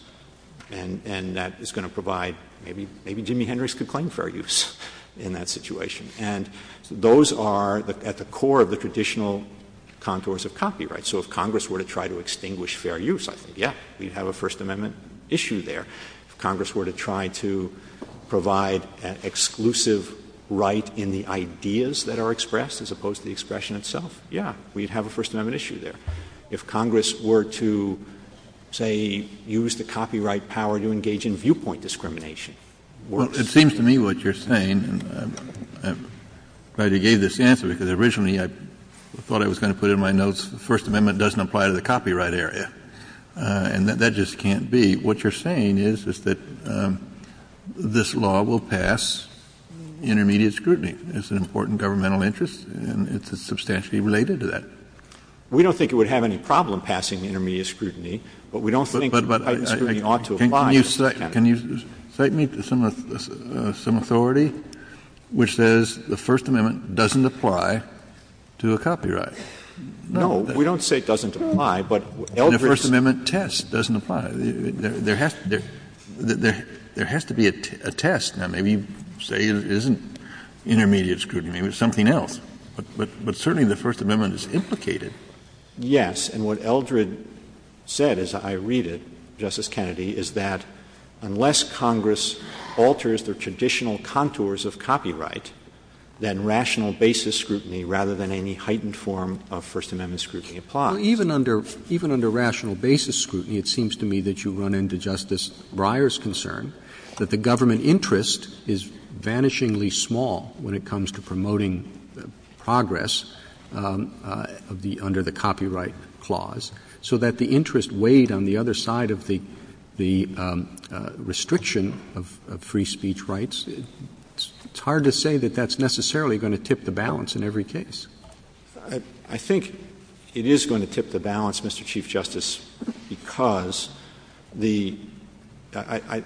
and that is going to provide, maybe Jimi Hendrix could claim fair use in that situation. And those are at the core of the traditional contours of copyright. So if Congress were to try to extinguish fair use, I think, yes, we would have a First Amendment issue there. If Congress were to try to provide an exclusive right in the ideas that are expressed as opposed to the expression itself, yes, we would have a First Amendment issue there. If Congress were to, say, use the copyright power to engage in viewpoint discrimination, it works. Well, it seems to me what you're saying, and I'm glad you gave this answer because originally I thought I was going to put it in my notes, First Amendment doesn't apply to the copyright area. And that just can't be. What you're saying is, is that this law will pass intermediate scrutiny. It's an important governmental interest and it's substantially related to that. We don't think it would have any problem passing intermediate scrutiny, but we don't think intermediate scrutiny ought to apply. Can you cite me some authority which says the First Amendment doesn't apply to a copyright? No. We don't say it doesn't apply, but Eldridge's. The First Amendment test doesn't apply. There has to be a test. Now, maybe you say it isn't intermediate scrutiny. Maybe it's something else. But certainly the First Amendment is implicated. Yes. And what Eldridge said, as I read it, Justice Kennedy, is that unless Congress alters their traditional contours of copyright, then rational basis scrutiny, rather than any heightened form of First Amendment scrutiny, applies. Even under rational basis scrutiny, it seems to me that you run into Justice Breyer's concern that the government interest is vanishingly small when it comes to promoting progress under the copyright clause, so that the interest weighed on the other side of the restriction of free speech rights. It's hard to say that that's necessarily going to tip the balance in every case. I think it is going to tip the balance, Mr. Chief Justice, because the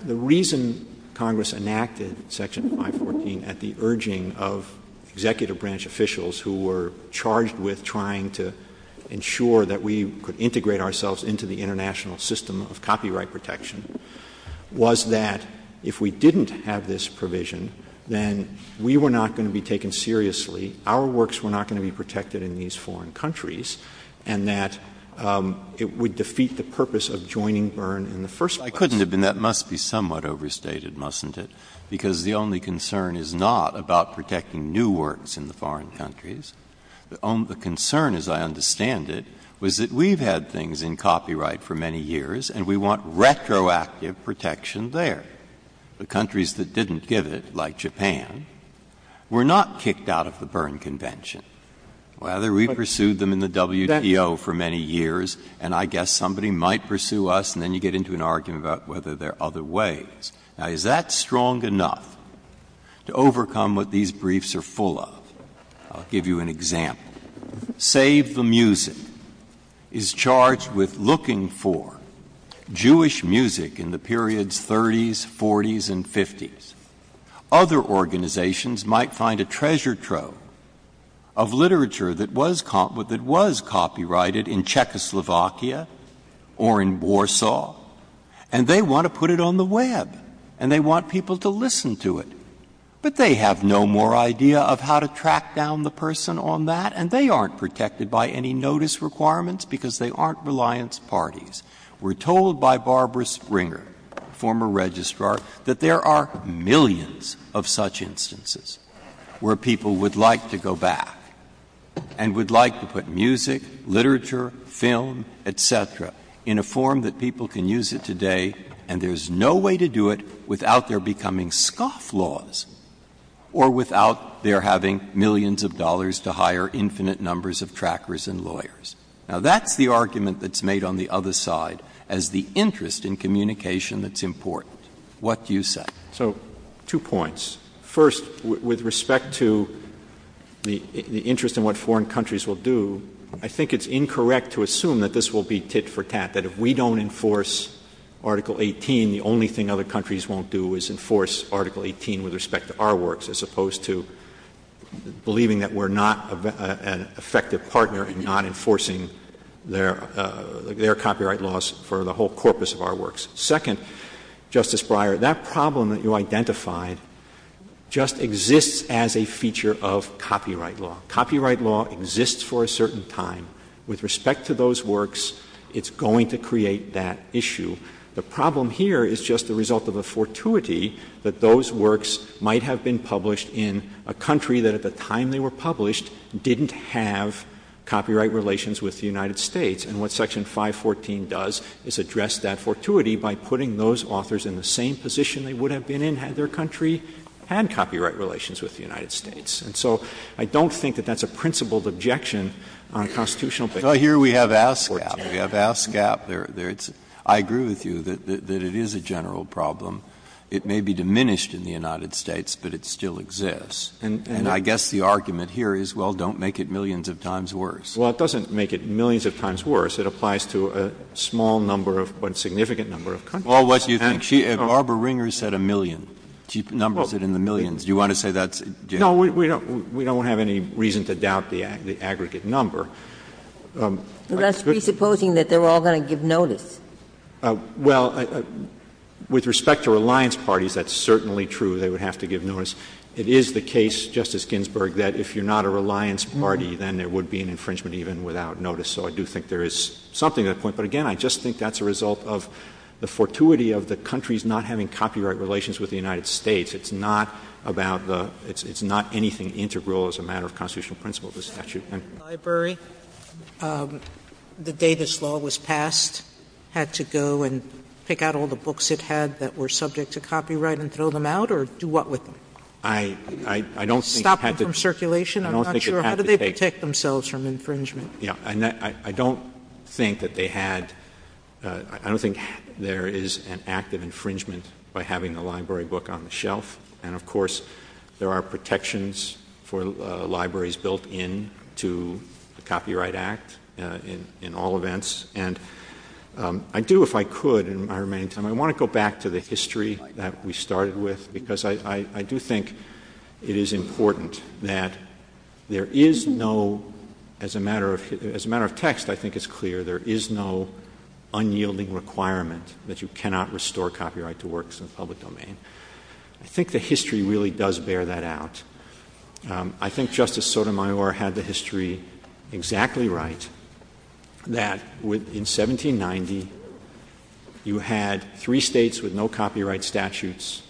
reason Congress enacted Section 514 at the urging of executive branch officials who were charged with trying to ensure that we could integrate ourselves into the international system of copyright protection was that if we didn't have this provision, then we were not going to be taken seriously. Our works were not going to be protected in these foreign countries, and that it would defeat the purpose of joining Byrne in the first place. I couldn't have been. That must be somewhat overstated, mustn't it? Because the only concern is not about protecting new works in the foreign countries. The concern, as I understand it, was that we've had things in copyright for many years and we want retroactive protection there. The countries that didn't give it, like Japan, were not kicked out of the Byrne Convention. Rather, we pursued them in the WTO for many years, and I guess somebody might pursue us, and then you get into an argument about whether there are other ways. Now, is that strong enough to overcome what these briefs are full of? I'll give you an example. Save the Music is charged with looking for Jewish music in the periods 30s, 40s, and 50s. Other organizations might find a treasure trove of literature that was copyrighted in Czechoslovakia or in Warsaw, and they want to put it on the Web, and they want people to listen to it. But they have no more idea of how to track down the person on that, and they aren't protected by any notice requirements because they aren't reliance parties. We're told by Barbara Springer, former Registrar, that there are millions of such instances where people would like to go back and would like to put music, literature, film, et cetera, in a form that people can use it today, and there's no way to do it without their becoming scoff laws or without their having millions of dollars to hire infinite numbers of trackers and lawyers. Now, that's the argument that's made on the other side as the interest in communication that's important. What do you say? Verrilli, So two points. First, with respect to the interest in what foreign countries will do, I think it's incorrect to assume that this will be tit for tat, that if we don't enforce Article 18, the only thing other countries won't do is enforce Article 18 with respect to our works, as opposed to believing that we're not an effective partner in not enforcing their copyright laws for the whole corpus of our works. Second, Justice Breyer, that problem that you identified just exists as a feature of copyright law. Copyright law exists for a certain time. With respect to those works, it's going to create that issue. The problem here is just the result of a fortuity that those works might have been published in a country that at the time they were published didn't have copyright relations with the United States. And what Section 514 does is address that fortuity by putting those authors in the same position they would have been in had their country had copyright relations with the United States. And so I don't think that that's a principled objection on a constitutional basis. Well, here we have ASCAP. We have ASCAP there. I agree with you that it is a general problem. It may be diminished in the United States, but it still exists. And I guess the argument here is, well, don't make it millions of times worse. Well, it doesn't make it millions of times worse. It applies to a small number of, but a significant number of countries. Well, what do you think? Barbara Ringer said a million. She numbers it in the millions. Do you want to say that's a general? No, we don't have any reason to doubt the aggregate number. That's presupposing that they're all going to give notice. Well, with respect to reliance parties, that's certainly true. They would have to give notice. It is the case, Justice Ginsburg, that if you're not a reliance party, then there would be an infringement even without notice. So I do think there is something to that point. But, again, I just think that's a result of the fortuity of the countries not having copyright relations with the United States. It's not about the — it's not anything integral as a matter of constitutional principle of the statute. The library, the day this law was passed, had to go and pick out all the books it had that were subject to copyright and throw them out, or do what with them? I don't think it had to — Stop them from circulation? I'm not sure. How did they protect themselves from infringement? Yeah. And I don't think that they had — I don't think there is an act of infringement by having the library book on the shelf. And, of course, there are protections for libraries built into the Copyright Act in all events. And I do, if I could, in my remaining time — I want to go back to the history that we started with, because I do think it is important that there is no — as a matter of — as a matter of text, I think it's clear there is no unyielding requirement that you cannot restore copyright to works in the public domain. I think the history really does bear that out. I think Justice Sotomayor had the history exactly right, that in 1790, you had three States with no copyright statutes.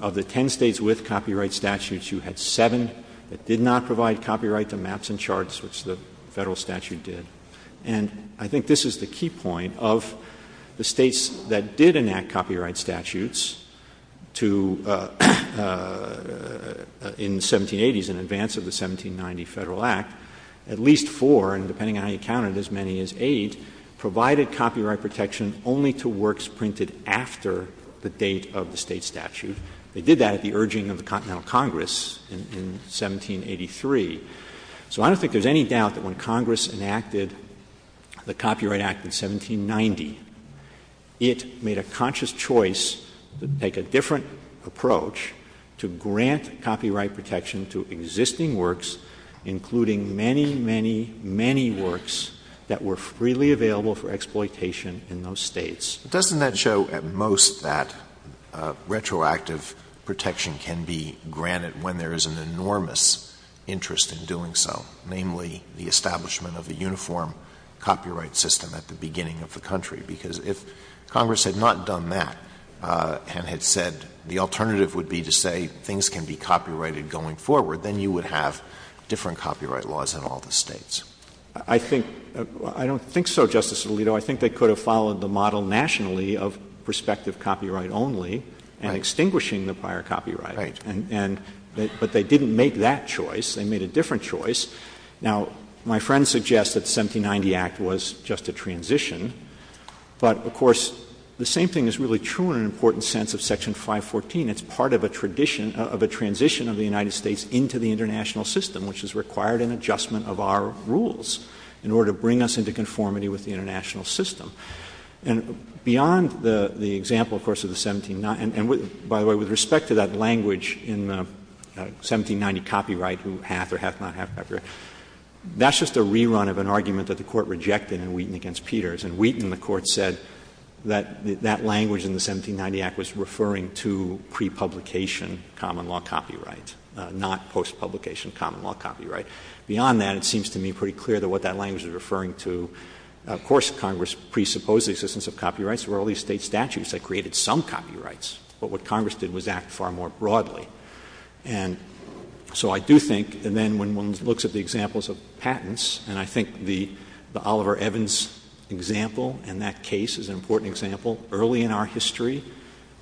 Of the ten States with copyright statutes, you had seven that did not provide copyright to maps and charts, which the Federal statute did. And I think this is the key point. Of the States that did enact copyright statutes to — in the 1780s, in advance of the 1790 Federal Act, at least four, and depending on how you count it, as many as eight, provided copyright protection only to works printed after the date of the State statute. They did that at the urging of the Continental Congress in 1783. So I don't think there's any doubt that when Congress enacted the Copyright Act in 1790, it made a conscious choice to take a different approach to grant copyright protection to existing works, including many, many, many works that were freely available for exploitation in those States. But doesn't that show at most that retroactive protection can be granted when there is an enormous interest in doing so, namely the establishment of a uniform copyright system at the beginning of the country? Because if Congress had not done that and had said the alternative would be to say things can be copyrighted going forward, then you would have different copyright laws in all the States. I think — I don't think so, Justice Alito. I think they could have followed the model nationally of prospective copyright only and extinguishing the prior copyright. Right. And — but they didn't make that choice. They made a different choice. Now, my friend suggests that the 1790 Act was just a transition. But, of course, the same thing is really true in an important sense of Section 514. It's part of a tradition — of a transition of the United States into the international system, which has required an adjustment of our rules in order to bring us into conformity with the international system. And beyond the example, of course, of the 17 — and, by the way, with respect to that language in the 1790 copyright who hath or hath not hath copyright, that's just a rerun of an argument that the Court rejected in Wheaton v. Peters. In Wheaton, the Court said that that language in the 1790 Act was referring to prepublication common law copyright, not postpublication common law copyright. Beyond that, it seems to me pretty clear that what that language is referring to — of course, Congress presupposed the existence of copyrights. There were all these State statutes that created some copyrights. But what Congress did was act far more broadly. And so I do think — and then when one looks at the examples of patents, and I think the Oliver Evans example and that case is an important example. Early in our history,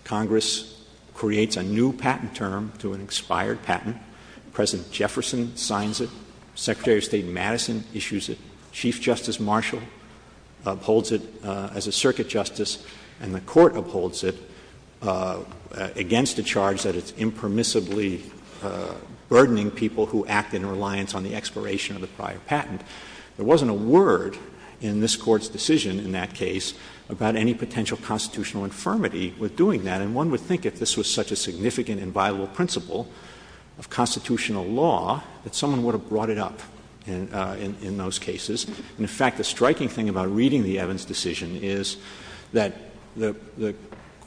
Congress creates a new patent term to an expired patent. President Jefferson signs it. Secretary of State Madison issues it. Chief Justice Marshall upholds it as a circuit justice. And the Court upholds it against a charge that it's impermissibly burdening people who act in reliance on the expiration of the prior patent. There wasn't a word in this Court's decision in that case about any potential constitutional infirmity with doing that. And one would think if this was such a significant and viable principle of constitutional law, that someone would have brought it up in those cases. And in fact, the striking thing about reading the Evans decision is that the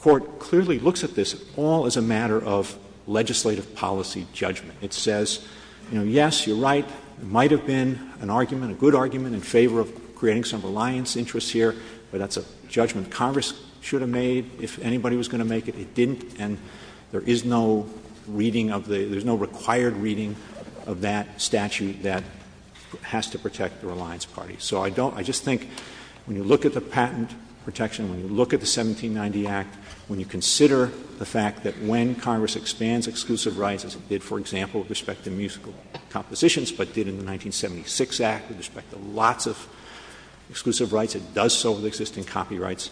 Court clearly looks at this all as a matter of legislative policy judgment. It says, you know, yes, you're right, it might have been an argument, a good argument in favor of creating some reliance interests here, but that's a judgment Congress should have made if anybody was going to make it. It didn't. And there is no reading of the — there's no required reading of that statute that has to protect the Reliance Party. So I don't — I just think when you look at the patent protection, when you look at the 1790 Act, when you consider the fact that when Congress expands exclusive rights as it did, for example, with respect to musical compositions, but did in the 1976 Act with respect to lots of exclusive rights, it does so with existing copyrights,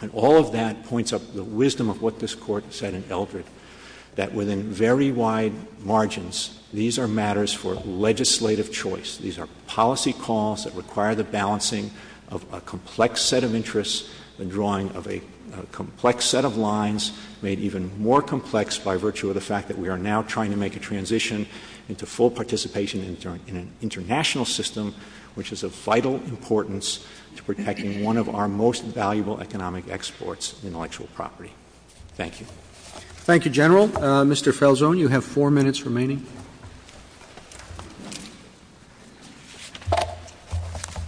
and all of that points up the wisdom of what this Court said in Eldred, that within very wide margins, these are matters for legislative choice. These are policy calls that require the balancing of a complex set of interests, the drawing of a complex set of lines made even more complex by virtue of the fact that we are now trying to make a transition into full participation in an international system, which is of vital importance to protecting one of our most valuable economic exports, intellectual property. Thank you. Roberts. Thank you, General. Mr. Feldsohn, you have four minutes remaining.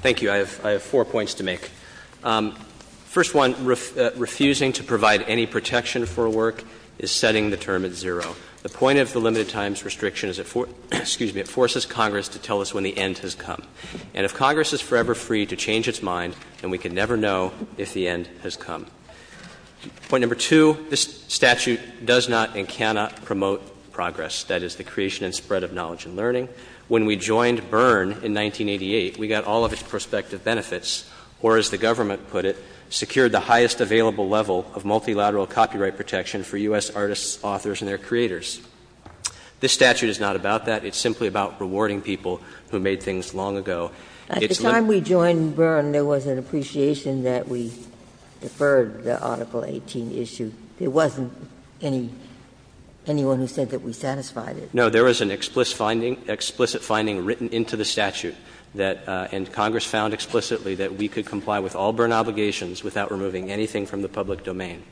Thank you. I have four points to make. First one, refusing to provide any protection for work is setting the term at zero. The point of the limited times restriction is it — excuse me — it forces Congress to tell us when the end has come. And if Congress is forever free to change its mind, then we can never know if the end has come. Point number two, this statute does not and cannot promote progress, that is, the creation and spread of knowledge and learning. When we joined Byrne in 1988, we got all of its prospective benefits, or as the government put it, secured the highest available level of multilateral copyright protection for U.S. artists, authors, and their creators. This statute is not about that. It's simply about rewarding people who made things long ago. At the time we joined Byrne, there was an appreciation that we deferred the Article 18 issue. There wasn't any — anyone who said that we satisfied it. No. There was an explicit finding written into the statute that — and Congress found explicitly that we could comply with all Byrne obligations without removing anything from the public domain.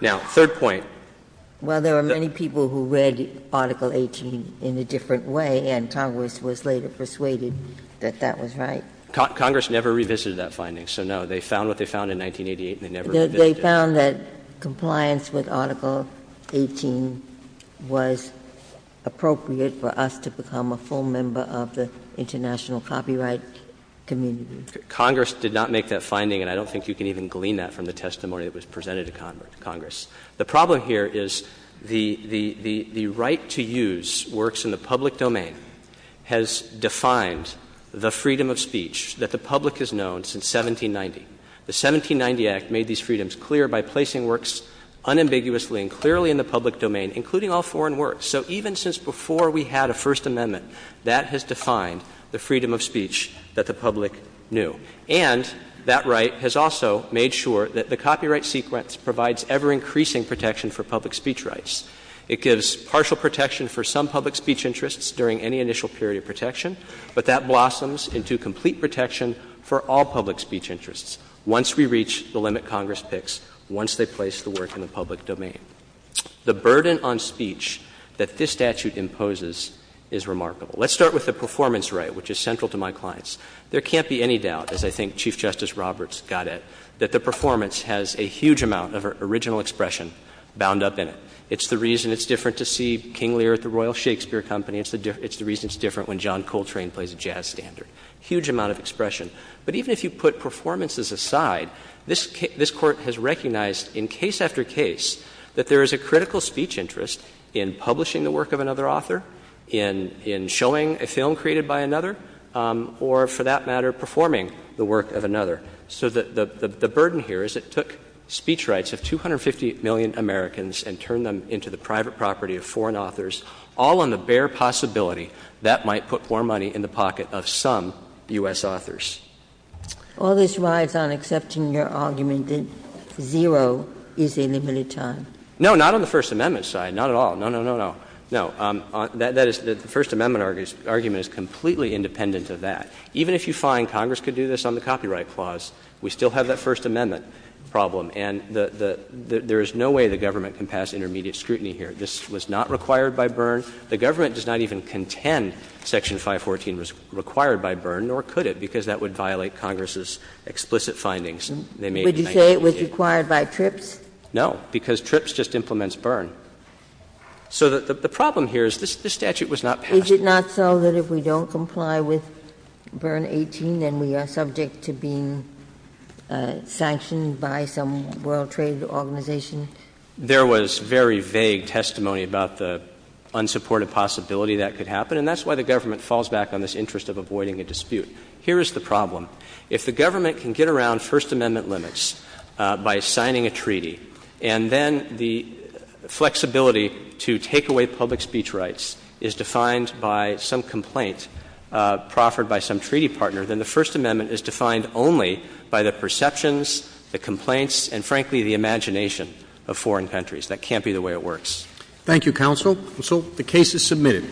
Now, third point. Well, there are many people who read Article 18 in a different way, and Congress was later persuaded. That that was right. Congress never revisited that finding, so no. They found what they found in 1988, and they never revisited it. They found that compliance with Article 18 was appropriate for us to become a full member of the international copyright community. Congress did not make that finding, and I don't think you can even glean that from the testimony that was presented to Congress. The problem here is the right to use works in the public domain has defined the freedom of speech that the public has known since 1790. The 1790 Act made these freedoms clear by placing works unambiguously and clearly in the public domain, including all foreign works. So even since before we had a First Amendment, that has defined the freedom of speech that the public knew. And that right has also made sure that the copyright sequence provides ever-increasing protection for public speech rights. It gives partial protection for some public speech interests during any initial period of protection, but that blossoms into complete protection for all public speech interests once we reach the limit Congress picks, once they place the work in the public domain. The burden on speech that this statute imposes is remarkable. Let's start with the performance right, which is central to my clients. There can't be any doubt, as I think Chief Justice Roberts got it, that the performance has a huge amount of original expression bound up in it. It's the reason it's different to see King Lear at the Royal Shakespeare Company. It's the reason it's different when John Coltrane plays a jazz standard. Huge amount of expression. But even if you put performances aside, this Court has recognized in case after case that there is a critical speech interest in publishing the work of another author, in showing a film created by another, or for that matter performing the work of another. So the burden here is it took speech rights of 250 million Americans and turned them into the private property of foreign authors, all on the bare possibility that might put more money in the pocket of some U.S. authors. All this rides on accepting your argument that zero is a limited time. No, not on the First Amendment side. Not at all. No, no, no, no. No, that is, the First Amendment argument is completely independent of that. Even if you find Congress could do this on the Copyright Clause, we still have that First Amendment problem. And the — there is no way the government can pass intermediate scrutiny here. This was not required by Byrne. The government does not even contend Section 514 was required by Byrne, nor could it, because that would violate Congress's explicit findings. They made 1988. Would you say it was required by TRIPS? No, because TRIPS just implements Byrne. So the problem here is this statute was not passed. Is it not so that if we don't comply with Byrne 18, then we are subject to being sanctioned by some World Trade Organization? There was very vague testimony about the unsupported possibility that could happen, and that's why the government falls back on this interest of avoiding a dispute. Here is the problem. If the government can get around First Amendment limits by signing a treaty, and then the flexibility to take away public speech rights is defined by some complaint proffered by some treaty partner, then the First Amendment is defined only by the perceptions, the complaints, and, frankly, the imagination of foreign countries. That can't be the way it works. Thank you, counsel. Counsel, the case is submitted.